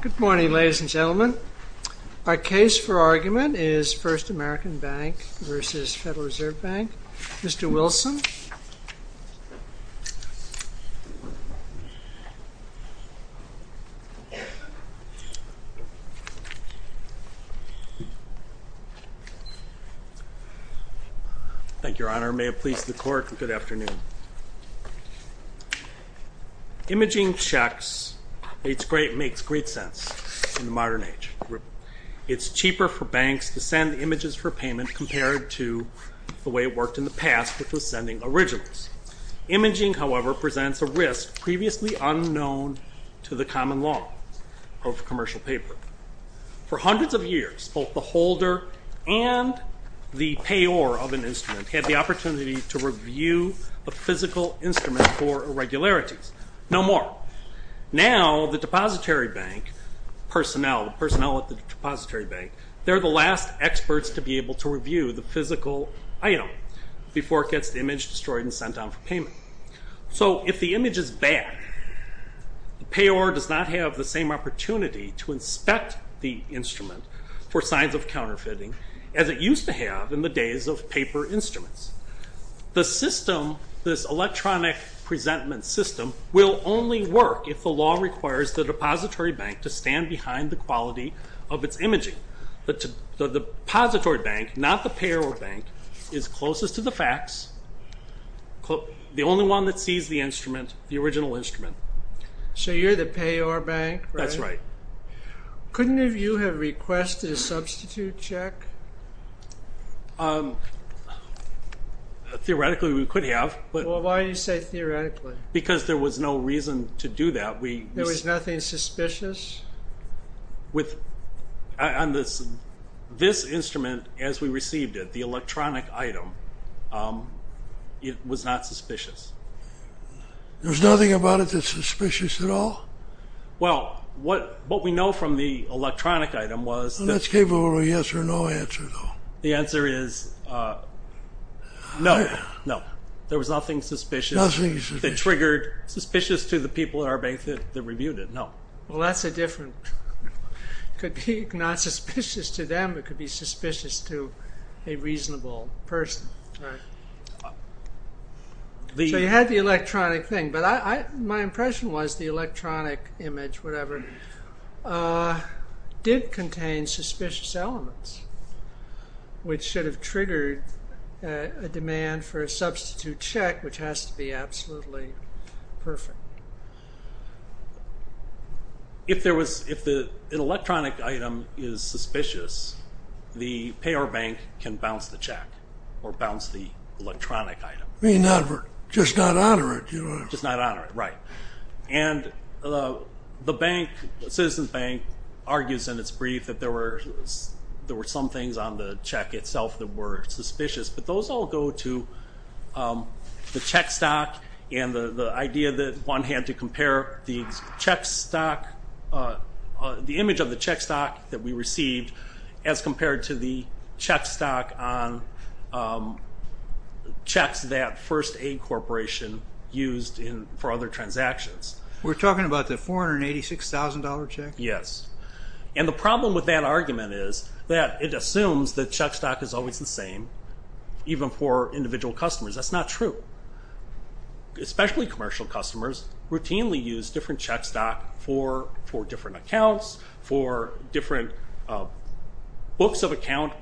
Good morning, ladies and gentlemen. Our case for argument is First American Bank v. Federal Reserve Bank. Mr. Wilson. Thank you, Your Honor. May it please the Court, good afternoon. Imaging checks makes great sense in the modern age. It's cheaper for banks to send images for payment compared to the way it worked in the past with the sending of originals. Imaging, however, presents a risk previously unknown to the common law of commercial paper. For hundreds of years, both the holder and the payor of an instrument had the opportunity to review a physical instrument for irregularities. No more. Now the depository bank personnel, the personnel at the depository bank, they're the last experts to be able to review the physical item before it gets the image destroyed and sent out for payment. So if the image is bad, the payor does not have the same opportunity to inspect the instrument for signs of counterfeiting as it used to have in the days of paper instruments. The system, this electronic presentment system, will only work if the law requires the depository bank to stand behind the quality of its imaging. The depository bank, not the payor bank, is closest to the facts, the only one that sees the instrument, the original instrument. So you're the payor bank, right? That's right. Couldn't you have requested a substitute check? Theoretically, we could have. Well, why do you say theoretically? Because there was no reason to do that. There was nothing suspicious? With this instrument, as we received it, the electronic item, it was not suspicious. There was nothing about it that's suspicious at all? Well, what we know from the electronic item was that... That's capable of a yes or no answer, though. The answer is no. No. There was nothing suspicious. Nothing suspicious. That triggered suspicious to the people at our bank that reviewed it. Well, that's a different... It could be not suspicious to them, it could be suspicious to a reasonable person. So you had the electronic thing, but my impression was the electronic image, whatever, did contain suspicious elements, which should have triggered a demand for a substitute check, which has to be absolutely perfect. If an electronic item is suspicious, the payer bank can bounce the check or bounce the electronic item. Just not honor it. Just not honor it, right. And the bank, Citizens Bank, argues in its brief that there were some things on the check itself that were suspicious, but those all go to the check stock and the idea that one had to compare the image of the check stock that we received as compared to the check stock on checks that First Aid Corporation used for other transactions. We're talking about the $486,000 check? Yes. And the problem with that argument is that it assumes that check stock is always the same, even for individual customers. That's not true. Especially commercial customers routinely use different check stock for different accounts, for different books of account,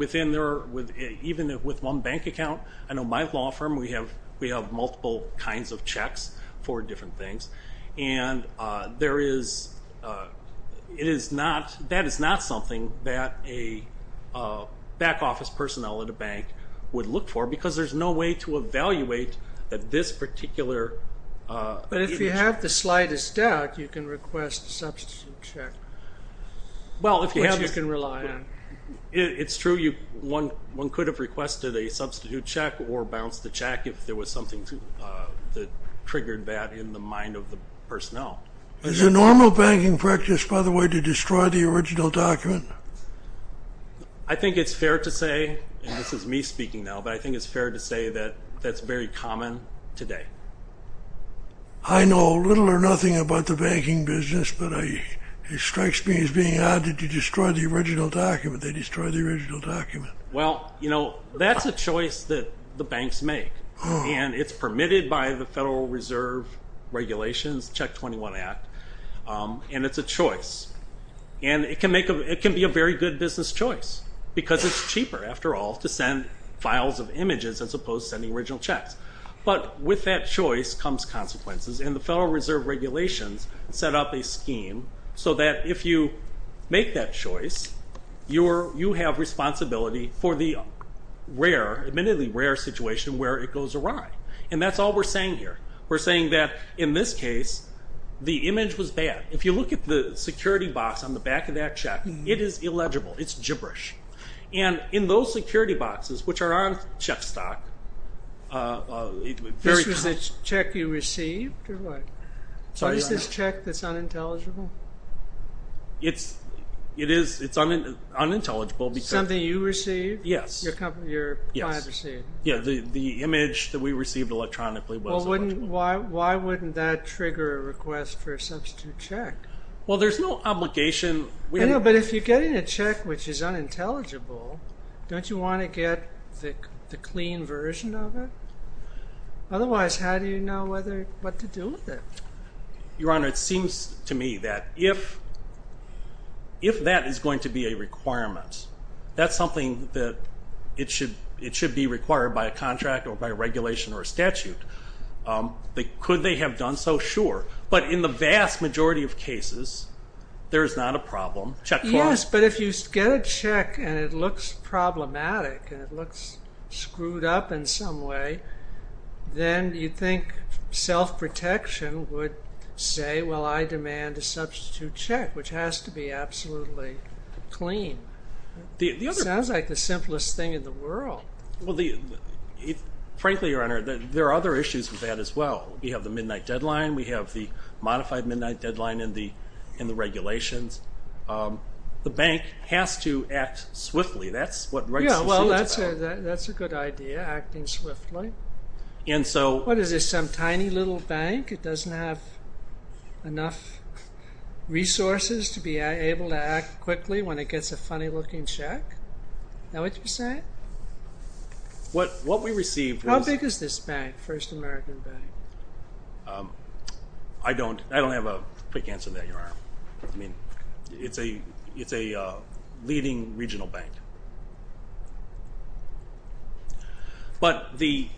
even with one bank account. I know my law firm, we have multiple kinds of checks for different things. And that is not something that a back office personnel at a bank would look for, because there's no way to evaluate that this particular image. But if you have the slightest doubt, you can request a substitute check, which you can rely on. It's true. One could have requested a substitute check or bounced the check if there was something that triggered that in the mind of the personnel. Is it normal banking practice, by the way, to destroy the original document? I think it's fair to say, and this is me speaking now, but I think it's fair to say that that's very common today. I know little or nothing about the banking business, but it strikes me as being odd that you destroy the original document. They destroy the original document. Well, you know, that's a choice that the banks make, and it's permitted by the Federal Reserve Regulations, Check 21 Act, and it's a choice. And it can be a very good business choice, because it's cheaper, after all, to send files of images as opposed to sending original checks. But with that choice comes consequences, and the Federal Reserve Regulations set up a scheme so that if you make that choice, you have responsibility for the rare, admittedly rare, situation where it goes awry. And that's all we're saying here. We're saying that in this case, the image was bad. If you look at the security box on the back of that check, it is illegible. It's gibberish. And in those security boxes, which are on check stock, it's very common. This check you received, or what? What is this check that's unintelligible? It is. It's unintelligible. Something you received? Yes. Your client received? Yes. The image that we received electronically was unintelligible. Well, why wouldn't that trigger a request for a substitute check? Well, there's no obligation. I know, but if you're getting a check which is unintelligible, don't you want to get the clean version of it? Otherwise, how do you know what to do with it? Your Honor, it seems to me that if that is going to be a requirement, that's something that it should be required by a contract or by a regulation or a statute. Could they have done so? Sure. But in the vast majority of cases, there is not a problem. Check clause? Yes, but if you get a check and it looks problematic and it looks screwed up in some way, then you'd think self-protection would say, well, I demand a substitute check, which has to be absolutely clean. It sounds like the simplest thing in the world. Frankly, Your Honor, there are other issues with that as well. We have the midnight deadline. We have the modified midnight deadline in the regulations. The bank has to act swiftly. That's what writes the suit. Yeah, well, that's a good idea, acting swiftly. What is this, some tiny little bank? It doesn't have enough resources to be able to act quickly when it gets a funny-looking check? Is that what you're saying? What we received was- How big is this bank, First American Bank? I don't have a quick answer to that, Your Honor. It's a leading regional bank. But the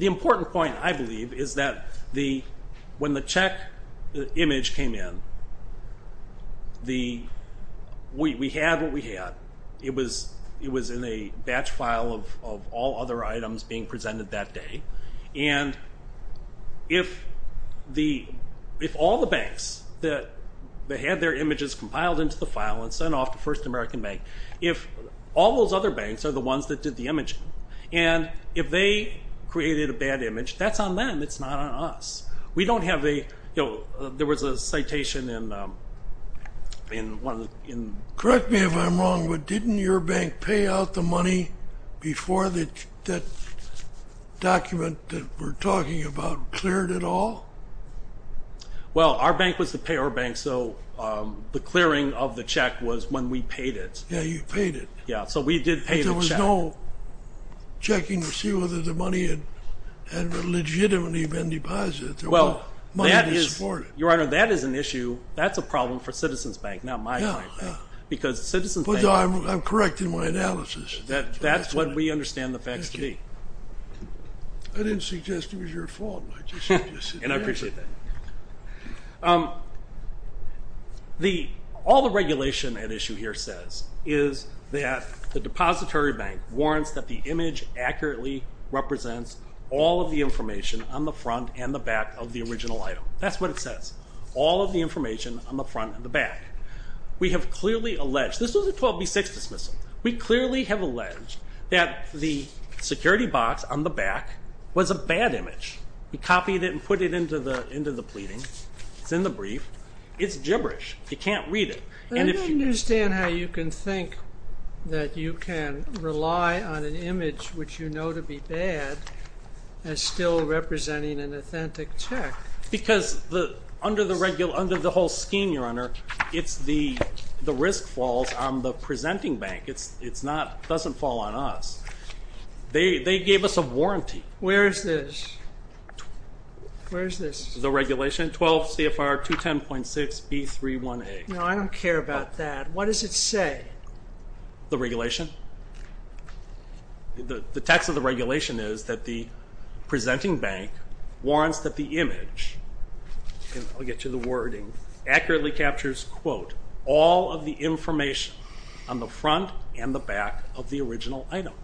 important point, I believe, is that when the check image came in, we had what we had. It was in a batch file of all other items being presented that day. And if all the banks that had their images compiled into the file and sent off to First American Bank, if all those other banks are the ones that did the imaging, and if they created a bad image, that's on them. It's not on us. We don't have a- There was a citation in- that we're talking about cleared at all? Well, our bank was the payer bank, so the clearing of the check was when we paid it. Yeah, you paid it. Yeah, so we did pay the check. There was no checking to see whether the money had legitimately been deposited. Well, that is- Money was supported. Your Honor, that is an issue. That's a problem for Citizens Bank, not my bank. Yeah, yeah. Because Citizens Bank- I'm correcting my analysis. That's what we understand the facts to be. I didn't suggest it was your fault. And I appreciate that. All the regulation at issue here says is that the depository bank warrants that the image accurately represents all of the information on the front and the back of the original item. That's what it says. All of the information on the front and the back. We have clearly alleged- This was a 12B6 dismissal. We clearly have alleged that the security box on the back was a bad image. We copied it and put it into the pleading. It's in the brief. It's gibberish. You can't read it. I don't understand how you can think that you can rely on an image which you know to be bad as still representing an authentic check. Because under the whole scheme, Your Honor, it's the risk falls on the presenting bank. It doesn't fall on us. They gave us a warranty. Where is this? Where is this? The regulation, 12 CFR 210.6B31A. No, I don't care about that. What does it say? The regulation. The text of the regulation is that the presenting bank warrants that the image, and I'll get you the wording, accurately captures, quote, all of the information on the front and the back of the original item.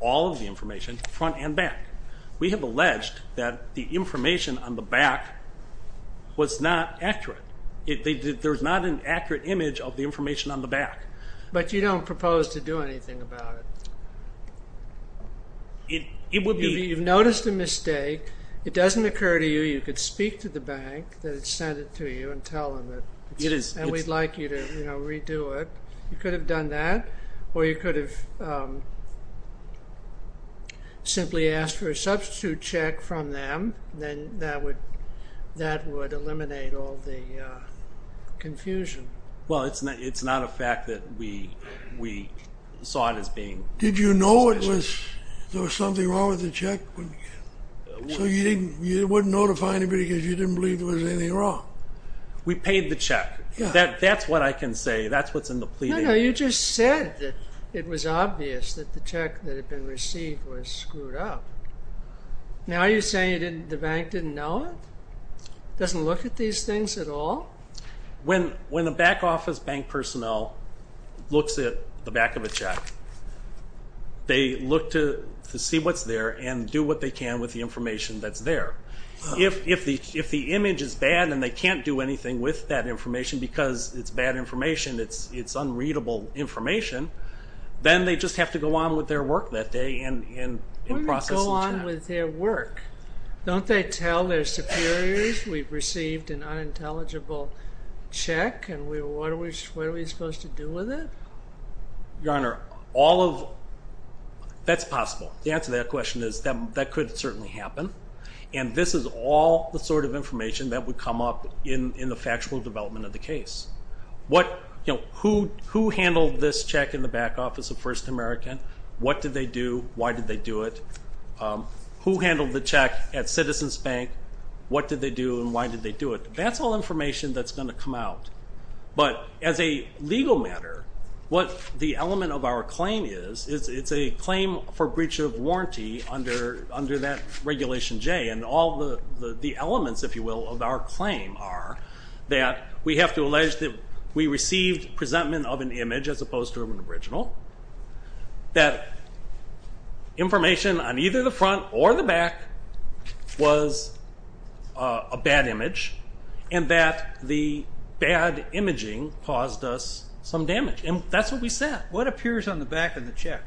All of the information, front and back. We have alleged that the information on the back was not accurate. There's not an accurate image of the information on the back. But you don't propose to do anything about it. You've noticed a mistake. It doesn't occur to you. You could speak to the bank that it sent it to you and tell them that we'd like you to redo it. You could have done that, or you could have simply asked for a substitute check from them. Then that would eliminate all the confusion. Well, it's not a fact that we saw it as being suspicious. Did you know there was something wrong with the check? So you wouldn't notify anybody because you didn't believe there was anything wrong? We paid the check. That's what I can say. That's what's in the pleading. No, no, you just said that it was obvious that the check that had been received was screwed up. Now you're saying the bank didn't know it? Doesn't look at these things at all? When the back office bank personnel looks at the back of a check, they look to see what's there and do what they can with the information that's there. If the image is bad and they can't do anything with that information because it's bad information, it's unreadable information, then they just have to go on with their work that day and process the check. Go on with their work. Don't they tell their superiors, we've received an unintelligible check and what are we supposed to do with it? Your Honor, all of that's possible. The answer to that question is that could certainly happen, and this is all the sort of information that would come up in the factual development of the case. Who handled this check in the back office of First American? What did they do? Why did they do it? Who handled the check at Citizens Bank? What did they do and why did they do it? That's all information that's going to come out. But as a legal matter, what the element of our claim is, it's a claim for breach of warranty under that Regulation J, and all the elements, if you will, of our claim are that we have to allege that we received presentment of an image as opposed to an original, that information on either the front or the back was a bad image, and that the bad imaging caused us some damage. And that's what we said. What appears on the back of the check?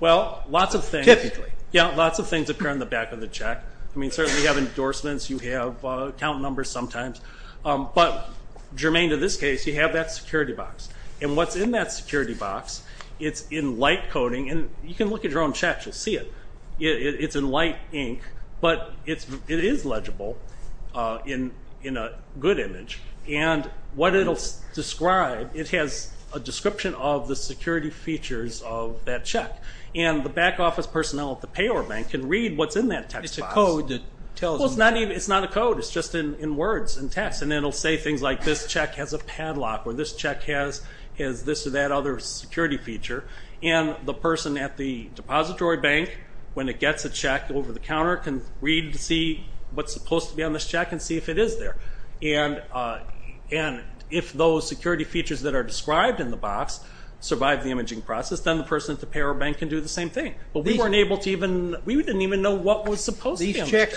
Well, lots of things. Typically. Yeah, lots of things appear on the back of the check. I mean, certainly you have endorsements. You have account numbers sometimes. But germane to this case, you have that security box. And what's in that security box, it's in light coding. And you can look at your own checks. You'll see it. It's in light ink, but it is legible in a good image. And what it will describe, it has a description of the security features of that check. And the back office personnel at the payor bank can read what's in that text box. It's a code that tells them that. Well, it's not a code. It's just in words and text. And it will say things like, this check has a padlock, or this check has this or that other security feature. And the person at the depository bank, when it gets a check over the counter, can read to see what's supposed to be on this check and see if it is there. And if those security features that are described in the box survive the imaging process, then the person at the payor bank can do the same thing. But we didn't even know what was supposed to be on the check.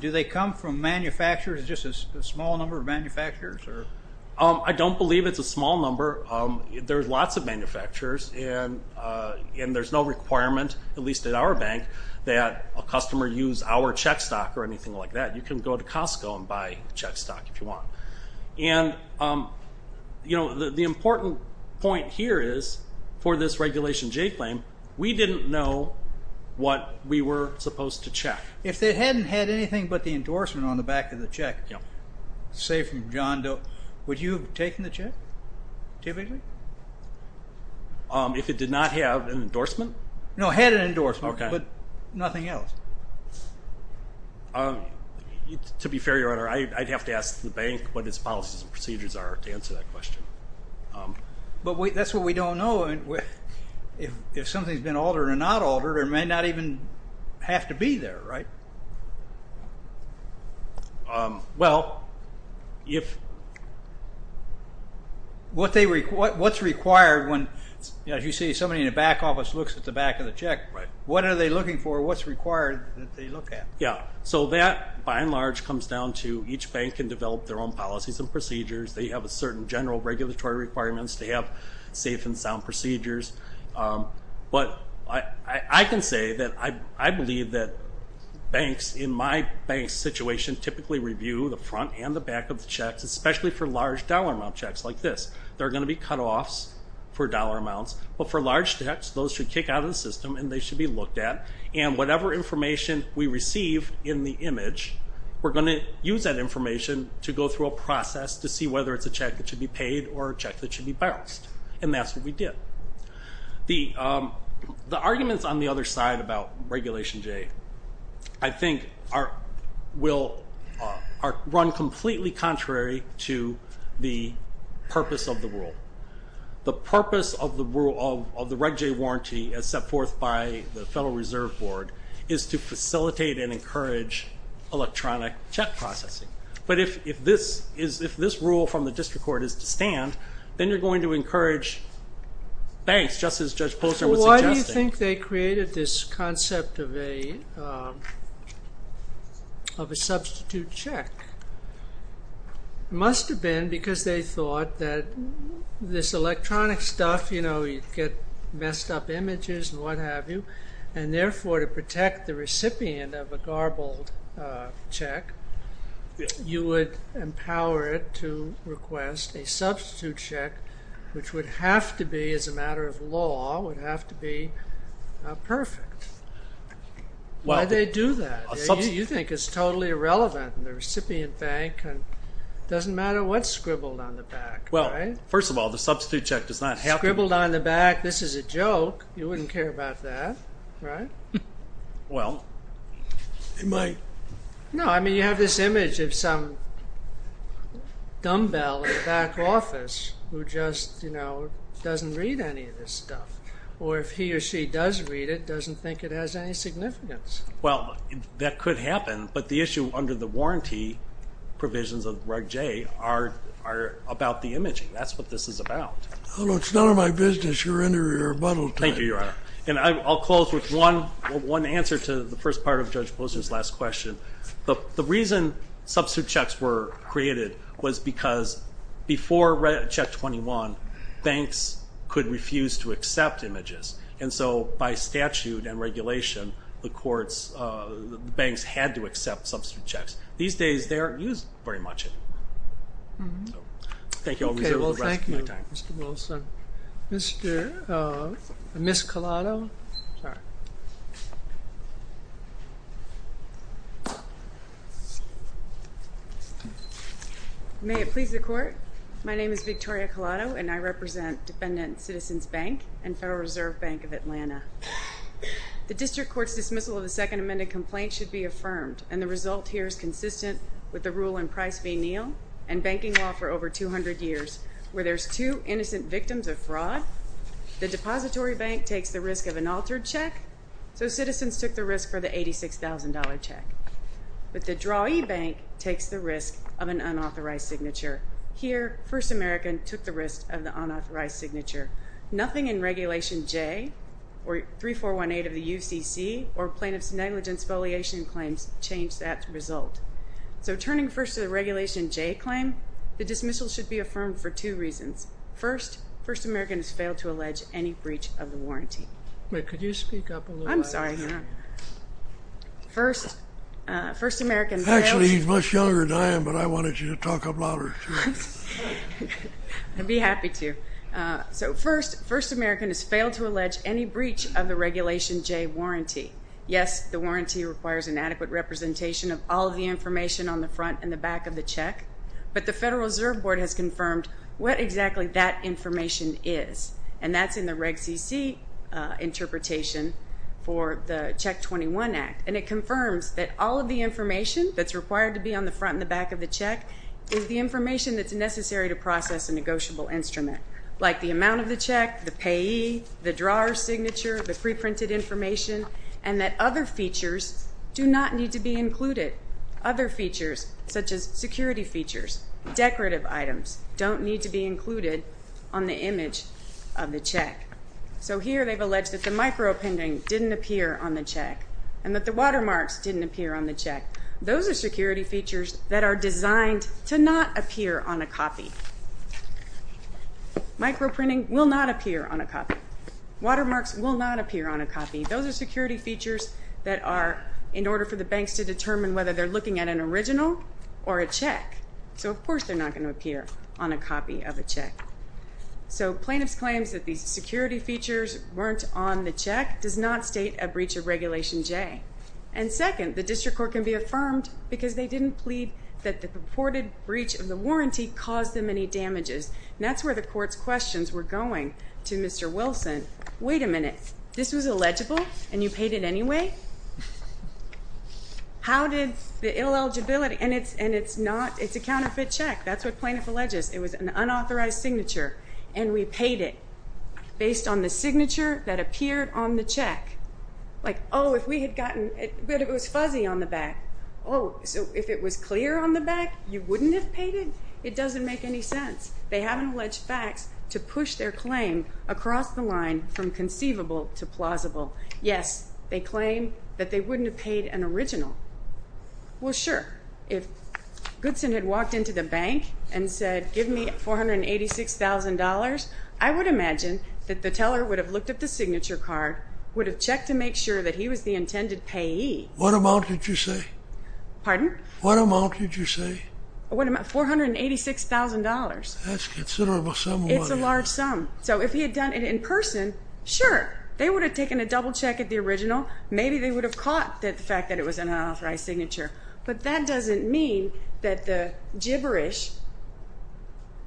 Do checks come from manufacturers, just a small number of manufacturers? I don't believe it's a small number. There's lots of manufacturers, and there's no requirement, at least at our bank, that a customer use our check stock or anything like that. You can go to Costco and buy check stock if you want. And the important point here is, for this Regulation J claim, we didn't know what we were supposed to check. If they hadn't had anything but the endorsement on the back of the check, say from John Doe, would you have taken the check, typically? If it did not have an endorsement? No, it had an endorsement, but nothing else. To be fair, Your Honor, I'd have to ask the bank what its policies and procedures are to answer that question. But that's what we don't know. If something's been altered or not altered, it may not even have to be there, right? Well, if what's required when, as you say, somebody in the back office looks at the back of the check, what are they looking for, what's required that they look at? Yeah, so that by and large comes down to each bank can develop their own policies and procedures. They have a certain general regulatory requirements. They have safe and sound procedures. But I can say that I believe that banks in my bank situation typically review the front and the back of the checks, especially for large dollar amount checks like this. There are going to be cutoffs for dollar amounts, but for large checks those should kick out of the system and they should be looked at. And whatever information we receive in the image, we're going to use that information to go through a process to see whether it's a check that should be paid or a check that should be balanced. And that's what we did. The arguments on the other side about Regulation J I think are run completely contrary to the purpose of the rule. The purpose of the Reg J warranty, as set forth by the Federal Reserve Board, is to facilitate and encourage electronic check processing. But if this rule from the district court is to stand, then you're going to encourage banks, just as Judge Posner was suggesting. Why do you think they created this concept of a substitute check? It must have been because they thought that this electronic stuff, you know, you'd get messed up images and what have you, and therefore to protect the recipient of a garbled check, you would empower it to request a substitute check, which would have to be, as a matter of law, would have to be perfect. Why'd they do that? You think it's totally irrelevant. The recipient bank, it doesn't matter what's scribbled on the back. Well, first of all, the substitute check does not have to be... Scribbled on the back, this is a joke. You wouldn't care about that, right? Well, it might. No, I mean, you have this image of some dumbbell in the back office who just, you know, doesn't read any of this stuff, or if he or she does read it, doesn't think it has any significance. Well, that could happen, but the issue under the warranty provisions of Reg J are about the imaging. That's what this is about. Well, it's none of my business. You're in your rebuttal time. Thank you, Your Honor. And I'll close with one answer to the first part of Judge Posner's last question. The reason substitute checks were created was because before Check 21, banks could refuse to accept images, and so by statute and regulation, the courts, the banks had to accept substitute checks. These days, they aren't used very much anymore. Thank you. I'll reserve the rest of my time. Okay, well, thank you, Mr. Wilson. Ms. Collado. May it please the Court, my name is Victoria Collado, and I represent Defendant Citizens Bank and Federal Reserve Bank of Atlanta. The District Court's dismissal of the Second Amendment complaint should be affirmed, and the result here is consistent with the rule in Price v. Neal and banking law for over 200 years where there's two innocent victims of fraud. The depository bank takes the risk of an altered check, so citizens took the risk for the $86,000 check. But the drawee bank takes the risk of an unauthorized signature. Here, First American took the risk of the unauthorized signature. Nothing in Regulation J or 3418 of the UCC or Plaintiff's Negligence Voliation Claims changed that result. So turning first to the Regulation J claim, the dismissal should be affirmed for two reasons. First, First American has failed to allege any breach of the warranty. Wait, could you speak up a little louder? I'm sorry. First, First American failed to... Actually, he's much younger than I am, but I wanted you to talk up louder. I'd be happy to. So first, First American has failed to allege any breach of the Regulation J warranty. Yes, the warranty requires an adequate representation of all of the information on the front and the back of the check, but the Federal Reserve Board has confirmed what exactly that information is, and that's in the Reg CC interpretation for the Check 21 Act, and it confirms that all of the information that's required to be on the front and the back of the check is the information that's necessary to process a negotiable instrument, like the amount of the check, the payee, the drawer's signature, the preprinted information, and that other features do not need to be included, other features, such as security features, decorative items, don't need to be included on the image of the check. So here they've alleged that the microprinting didn't appear on the check and that the watermarks didn't appear on the check. Those are security features that are designed to not appear on a copy. Microprinting will not appear on a copy. Watermarks will not appear on a copy. Those are security features that are, in order for the banks to determine whether they're looking at an original or a check. So, of course, they're not going to appear on a copy of a check. So plaintiff's claims that these security features weren't on the check does not state a breach of Regulation J. And second, the district court can be affirmed because they didn't plead that the purported breach of the warranty caused them any damages, and that's where the court's questions were going to Mr. Wilson. Wait a minute. This was illegible, and you paid it anyway? How did the illegibility, and it's a counterfeit check. That's what plaintiff alleges. It was an unauthorized signature, and we paid it based on the signature that appeared on the check. Like, oh, if we had gotten, but it was fuzzy on the back. Oh, so if it was clear on the back, you wouldn't have paid it? It doesn't make any sense. They haven't alleged facts to push their claim across the line from conceivable to plausible. Yes, they claim that they wouldn't have paid an original. Well, sure, if Goodson had walked into the bank and said, give me $486,000, I would imagine that the teller would have looked at the signature card, would have checked to make sure that he was the intended payee. What amount did you say? Pardon? What amount did you say? $486,000. That's considerable sum of money. It's a large sum. So if he had done it in person, sure, they would have taken a double check at the original. Maybe they would have caught the fact that it was an unauthorized signature. But that doesn't mean that the gibberish,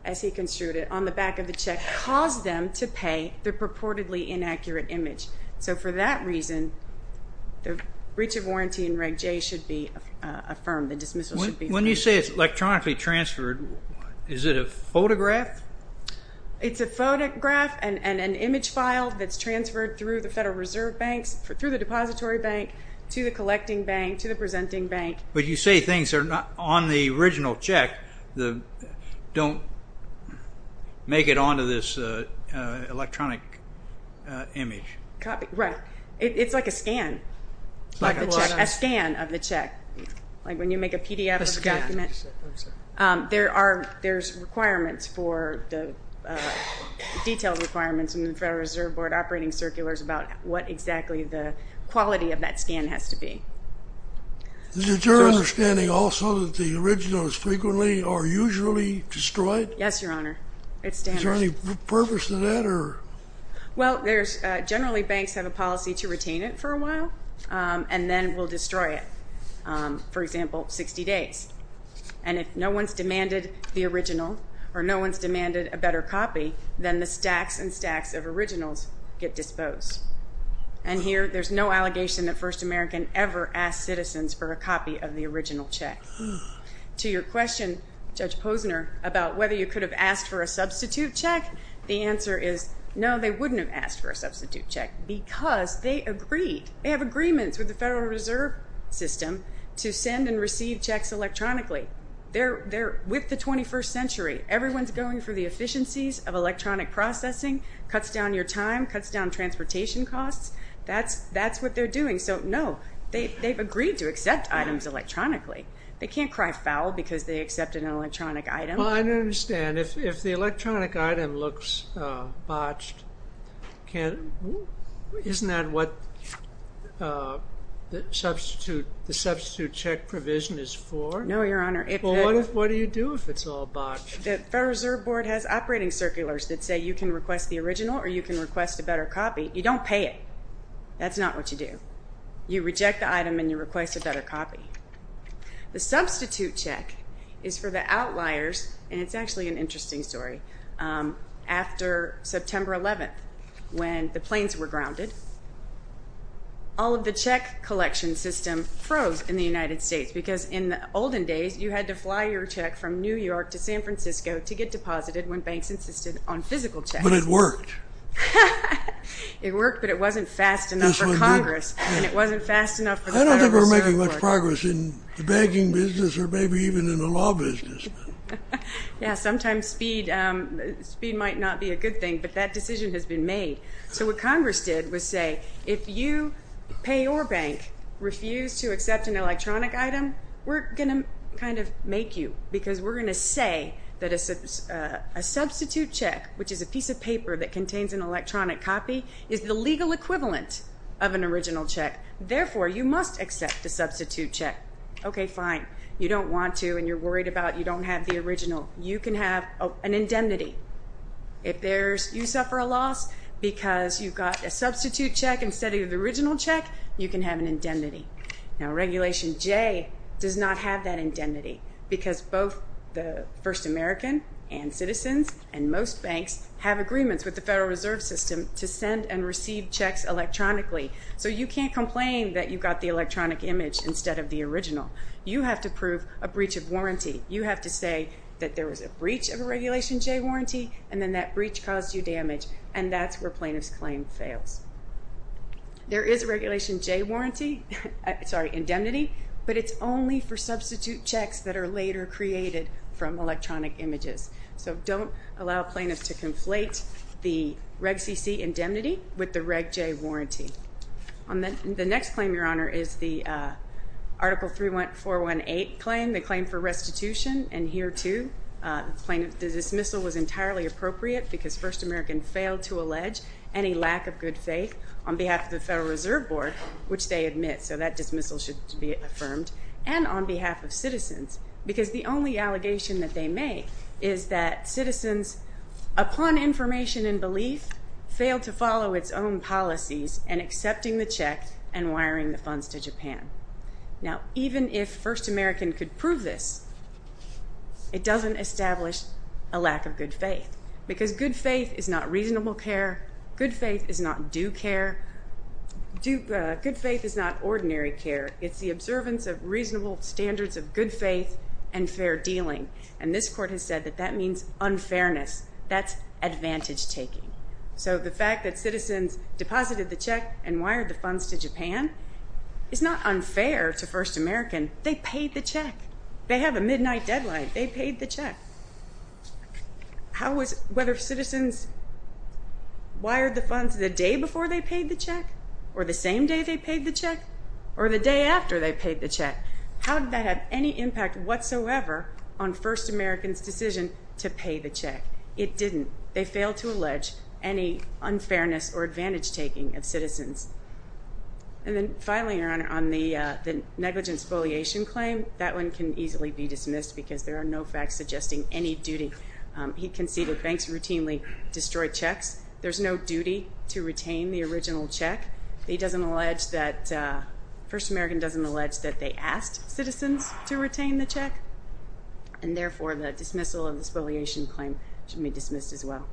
as he construed it, on the back of the check caused them to pay the purportedly inaccurate image. So for that reason, the breach of warranty in Reg J should be affirmed. The dismissal should be affirmed. When you say it's electronically transferred, is it a photograph? It's a photograph and an image file that's transferred through the Federal Reserve Banks, through the depository bank, to the collecting bank, to the presenting bank. But you say things that are not on the original check don't make it onto this electronic image. Right. It's like a scan of the check. Like when you make a PDF of a document, there are requirements for the detailed requirements in the Federal Reserve Board operating circulars about what exactly the quality of that scan has to be. Is it your understanding also that the originals frequently or usually destroyed? Yes, Your Honor. Is there any purpose to that? Well, generally banks have a policy to retain it for a while, and then will destroy it, for example, 60 days. And if no one's demanded the original or no one's demanded a better copy, then the stacks and stacks of originals get disposed. And here there's no allegation that First American ever asked citizens for a copy of the original check. To your question, Judge Posner, about whether you could have asked for a substitute check, the answer is no, they wouldn't have asked for a substitute check because they agreed. They have agreements with the Federal Reserve System to send and receive checks electronically. With the 21st century, everyone's going for the efficiencies of electronic processing, cuts down your time, cuts down transportation costs. That's what they're doing. So no, they've agreed to accept items electronically. They can't cry foul because they accepted an electronic item. Well, I don't understand. If the electronic item looks botched, isn't that what the substitute check provision is for? No, Your Honor. Well, what do you do if it's all botched? The Federal Reserve Board has operating circulars that say you can request the original or you can request a better copy. You don't pay it. That's not what you do. You reject the item and you request a better copy. The substitute check is for the outliers, and it's actually an interesting story. After September 11th, when the planes were grounded, all of the check collection system froze in the United States because in the olden days, you had to fly your check from New York to San Francisco to get deposited when banks insisted on physical checks. But it worked. It worked, but it wasn't fast enough for Congress, and it wasn't fast enough for the Federal Reserve Board. I don't think we're making much progress in the banking business or maybe even in the law business. Yeah, sometimes speed might not be a good thing, but that decision has been made. So what Congress did was say, if you pay your bank, refuse to accept an electronic item, we're going to kind of make you because we're going to say that a substitute check, which is a piece of paper that contains an electronic copy, is the legal equivalent of an original check. Therefore, you must accept a substitute check. Okay, fine. You don't want to, and you're worried about you don't have the original. You can have an indemnity. If you suffer a loss because you got a substitute check instead of the original check, you can have an indemnity. Now, Regulation J does not have that indemnity because both the First American and citizens and most banks have agreements with the Federal Reserve System to send and receive checks electronically. So you can't complain that you got the electronic image instead of the original. You have to prove a breach of warranty. You have to say that there was a breach of a Regulation J warranty, and then that breach caused you damage, and that's where plaintiff's claim fails. There is a Regulation J indemnity, but it's only for substitute checks that are later created from electronic images. So don't allow plaintiffs to conflate the Reg CC indemnity with the Reg J warranty. The next claim, Your Honor, is the Article 31418 claim, the claim for restitution. And here, too, the dismissal was entirely appropriate because First American failed to allege any lack of good faith on behalf of the Federal Reserve Board, which they admit, so that dismissal should be affirmed, and on behalf of citizens because the only allegation that they make is that citizens, upon information and belief, failed to follow its own policies in accepting the check and wiring the funds to Japan. Now, even if First American could prove this, it doesn't establish a lack of good faith because good faith is not reasonable care. Good faith is not due care. Good faith is not ordinary care. It's the observance of reasonable standards of good faith and fair dealing, and this Court has said that that means unfairness. That's advantage-taking. So the fact that citizens deposited the check and wired the funds to Japan is not unfair to First American. They paid the check. They have a midnight deadline. They paid the check. Whether citizens wired the funds the day before they paid the check or the same day they paid the check or the day after they paid the check, how did that have any impact whatsoever on First American's decision to pay the check? It didn't. They failed to allege any unfairness or advantage-taking of citizens. And then finally, Your Honor, on the negligence foliation claim, that one can easily be dismissed because there are no facts suggesting any duty. He conceded banks routinely destroy checks. There's no duty to retain the original check. He doesn't allege that First American doesn't allege that they asked citizens to retain the check, and therefore the dismissal of this foliation claim should be dismissed as well.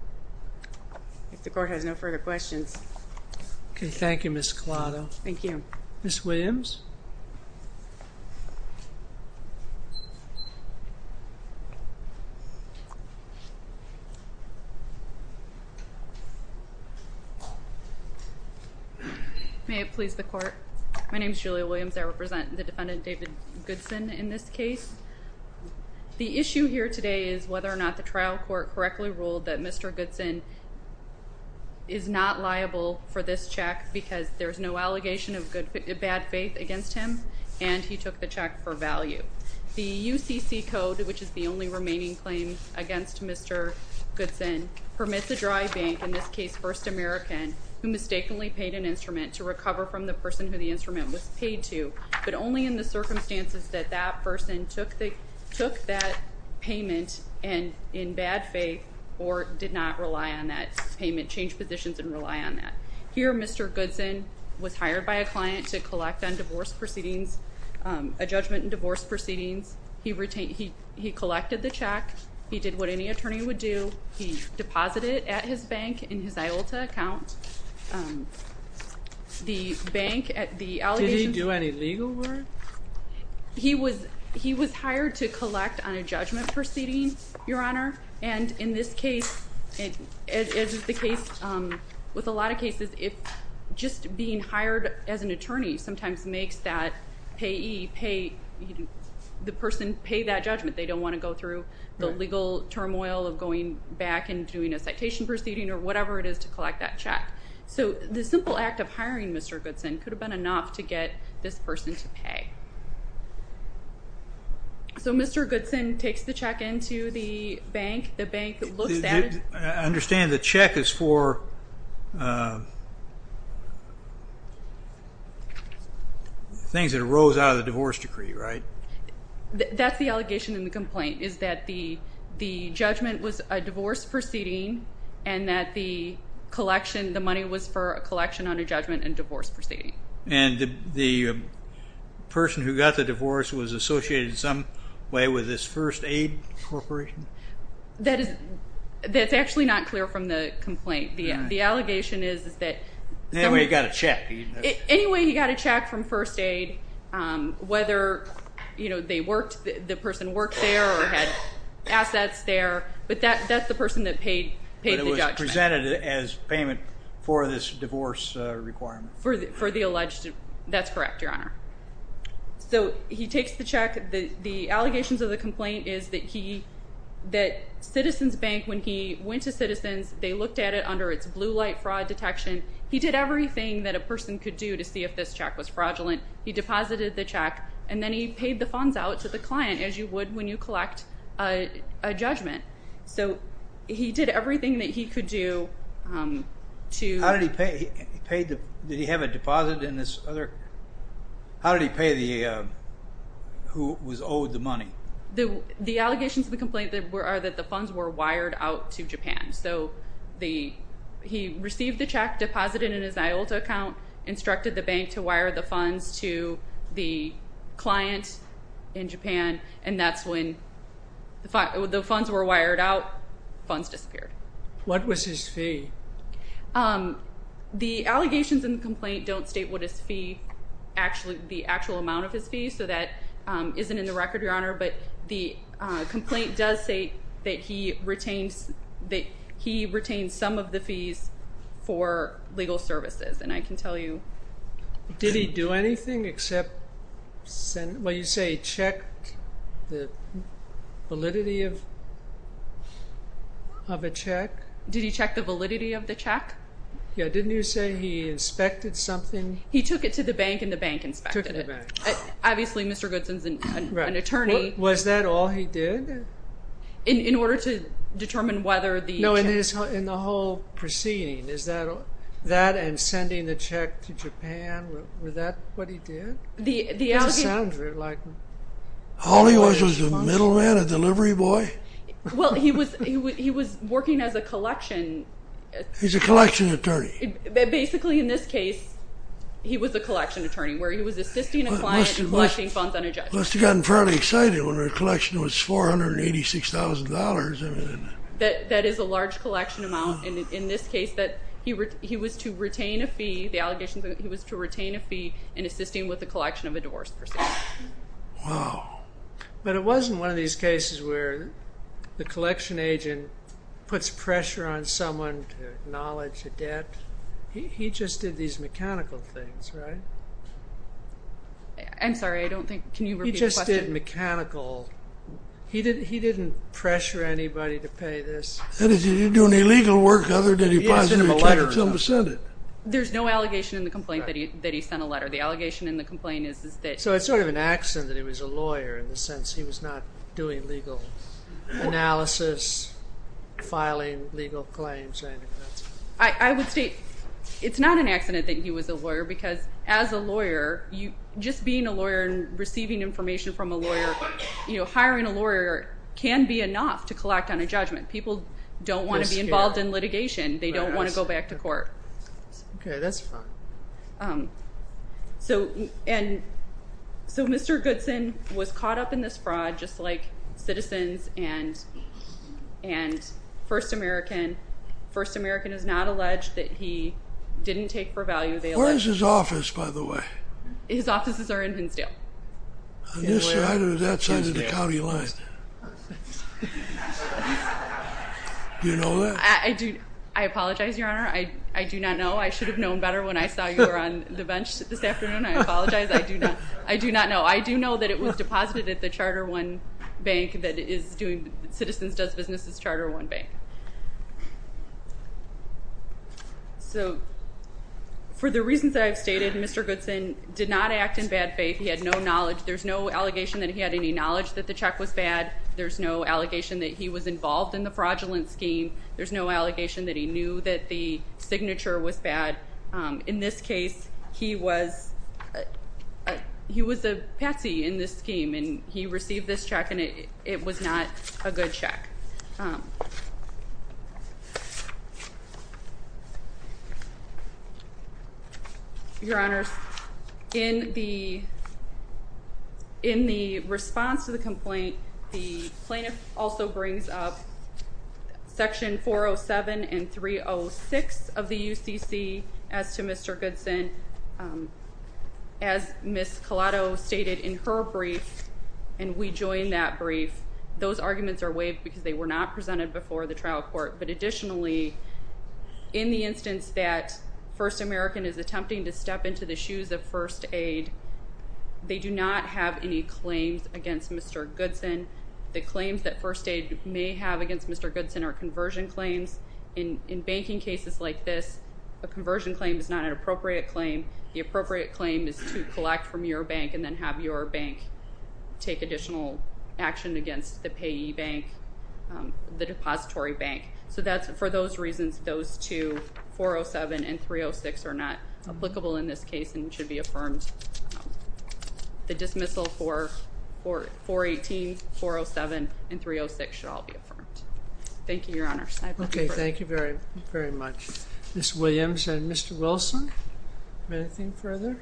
If the Court has no further questions. Okay. Thank you, Ms. Collado. Thank you. Ms. Williams. May it please the Court. My name is Julia Williams. I represent the defendant, David Goodson, in this case. The issue here today is whether or not the trial court correctly ruled that Mr. Goodson is not liable for this check because there's no allegation of bad faith against him, and he took the check for value. The UCC code, which is the only remaining claim against Mr. Goodson, permits a dry bank, in this case First American, who mistakenly paid an instrument to recover from the person who the instrument was paid to, but only in the circumstances that that person took that payment in bad faith or did not rely on that payment, change positions, and rely on that. Here, Mr. Goodson was hired by a client to collect on divorce proceedings, a judgment in divorce proceedings. He collected the check. He did what any attorney would do. He deposited it at his bank in his IOLTA account. The bank at the allegations... Did he do any legal work? He was hired to collect on a judgment proceeding, Your Honor, and in this case, as is the case with a lot of cases, just being hired as an attorney sometimes makes that payee pay the person, pay that judgment. They don't want to go through the legal turmoil of going back and doing a citation proceeding or whatever it is to collect that check. So the simple act of hiring Mr. Goodson could have been enough to get this person to pay. So Mr. Goodson takes the check into the bank. The bank looks at it. I understand the check is for things that arose out of the divorce decree, right? That's the allegation in the complaint is that the judgment was a divorce proceeding and that the collection, the money was for a collection under judgment and divorce proceeding. And the person who got the divorce was associated in some way with this first aid corporation? That is actually not clear from the complaint. The allegation is that... Anyway, he got a check. Anyway, he got a check from first aid. Whether, you know, they worked, the person worked there or had assets there, but that's the person that paid the judgment. But it was presented as payment for this divorce requirement. For the alleged, that's correct, Your Honor. So he takes the check. The allegations of the complaint is that he, that Citizens Bank, when he went to Citizens, they looked at it under its blue light fraud detection. He did everything that a person could do to see if this check was fraudulent. He deposited the check, and then he paid the funds out to the client, as you would when you collect a judgment. So he did everything that he could do to... How did he pay? Did he have a deposit in this other? How did he pay the, who was owed the money? The allegations of the complaint are that the funds were wired out to Japan. So he received the check, deposited it in his IOLTA account, instructed the bank to wire the funds to the client in Japan, and that's when the funds were wired out, funds disappeared. What was his fee? The allegations in the complaint don't state what his fee, the actual amount of his fee, so that isn't in the record, Your Honor. But the complaint does say that he retained some of the fees for legal services, and I can tell you... Did he do anything except, well, you say he checked the validity of a check? Did he check the validity of the check? Yeah, didn't you say he inspected something? He took it to the bank, and the bank inspected it. Obviously, Mr. Goodson is an attorney. Was that all he did? In order to determine whether the check... No, in the whole proceeding, is that, and sending the check to Japan, was that what he did? The allegations... All he was, was a middleman, a delivery boy? Well, he was working as a collection... He's a collection attorney. Basically, in this case, he was a collection attorney, where he was assisting a client in collecting funds on a judgment. He must have gotten fairly excited when the collection was $486,000. That is a large collection amount. In this case, he was to retain a fee, the allegations, he was to retain a fee in assisting with the collection of a divorce proceeding. Wow. But it wasn't one of these cases where the collection agent puts pressure on someone to acknowledge a debt. He just did these mechanical things, right? I'm sorry, I don't think... Can you repeat the question? He just did mechanical... He didn't pressure anybody to pay this. He didn't do any legal work other than he possibly tried to tell them to send it. There's no allegation in the complaint that he sent a letter. The allegation in the complaint is that... So it's sort of an accident that he was a lawyer, in the sense he was not doing legal analysis, filing legal claims. I would state it's not an accident that he was a lawyer because as a lawyer, just being a lawyer and receiving information from a lawyer, hiring a lawyer can be enough to collect on a judgment. People don't want to be involved in litigation. They don't want to go back to court. Okay, that's fine. So Mr. Goodson was caught up in this fraud, just like citizens and First American. First American is not alleged that he didn't take for value. Where is his office, by the way? His offices are in Hinsdale. On this side or that side of the county line? Do you know that? I apologize, Your Honor. I do not know. I should have known better when I saw you were on the bench this afternoon. I apologize. I do not know. I do know that it was deposited at the Charter One Bank that is doing Citizens Does Business' Charter One Bank. So for the reasons that I've stated, Mr. Goodson did not act in bad faith. He had no knowledge. There's no allegation that he had any knowledge that the check was bad. There's no allegation that he was involved in the fraudulent scheme. There's no allegation that he knew that the signature was bad. In this case, he was a patsy in this scheme, and he received this check, and it was not a good check. Your Honors, in the response to the complaint, the plaintiff also brings up Section 407 and 306 of the UCC, as to Mr. Goodson. As Ms. Collado stated in her brief, and we joined that brief, those arguments are waived because they were not presented before the trial court, but additionally, in the instance that First American is attempting to step into the shoes of First Aid, they do not have any claims against Mr. Goodson. The claims that First Aid may have against Mr. Goodson are conversion claims. In banking cases like this, a conversion claim is not an appropriate claim. The appropriate claim is to collect from your bank and then have your bank take additional action against the payee bank, the depository bank. So for those reasons, those two, 407 and 306, are not applicable in this case and should be affirmed. The dismissal for 418, 407, and 306 should all be affirmed. Thank you, Your Honor. Okay, thank you very, very much. Ms. Williams and Mr. Wilson, anything further?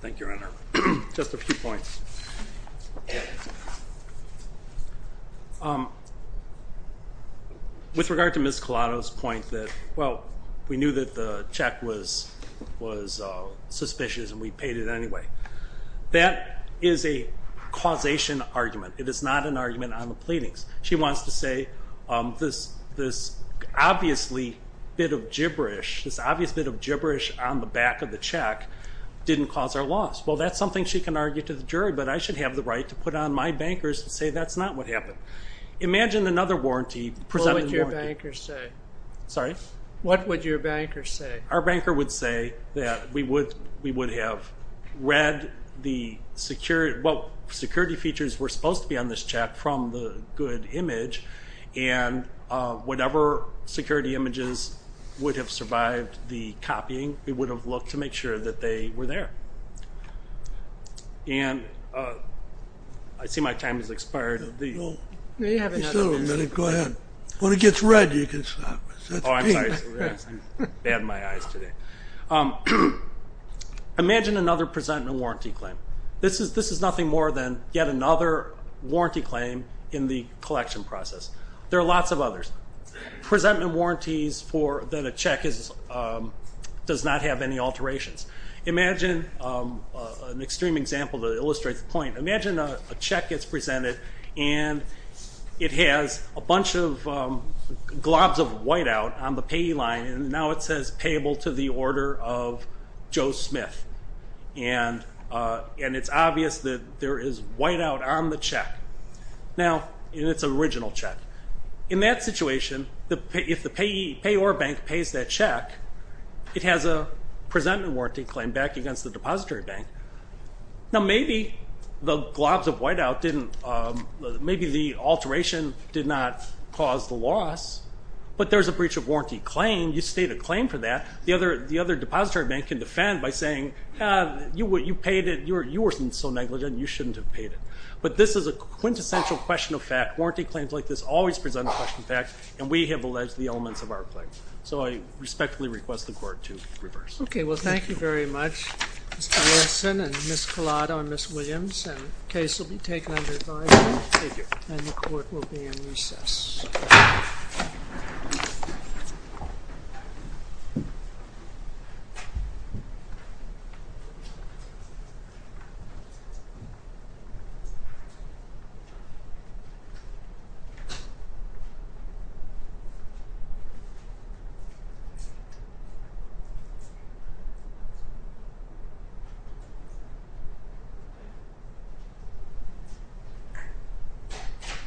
Thank you, Your Honor. Just a few points. With regard to Ms. Collado's point that, well, we knew that the check was suspicious and we paid it anyway. That is a causation argument. It is not an argument on the pleadings. She wants to say this obviously bit of gibberish, this obvious bit of gibberish on the back of the check, didn't cause our loss. Well, that's something she can argue to the jury, but I should have the right to put on my bankers and say that's not what happened. Imagine another warranty. What would your bankers say? Sorry? What would your bankers say? Our banker would say that we would have read the security features we're supposed to be on this check from the good image and whatever security images would have survived the copying, we would have looked to make sure that they were there. And I see my time has expired. No, you still have a minute. Go ahead. When it gets red, you can stop. Oh, I'm sorry. I bad my eyes today. Imagine another presentment warranty claim. This is nothing more than yet another warranty claim in the collection process. There are lots of others. Presentment warranties that a check does not have any alterations. Imagine an extreme example that illustrates the point. Imagine a check gets presented and it has a bunch of globs of whiteout on the payee line, and now it says payable to the order of Joe Smith. And it's obvious that there is whiteout on the check, and it's an original check. In that situation, if the payee or bank pays that check, it has a presentment warranty claim back against the depository bank. Now, maybe the globs of whiteout didn't, maybe the alteration did not cause the loss, but there's a breach of warranty claim. You state a claim for that. The other depository bank can defend by saying, you paid it. You were so negligent. You shouldn't have paid it. But this is a quintessential question of fact. Warranty claims like this always present a question of fact, and we have alleged the elements of our claim. So I respectfully request the court to reverse. Okay. Well, thank you very much, Mr. Olson and Ms. Collado and Ms. Williams. The case will be taken under advisory, and the court will be in recess. Thank you.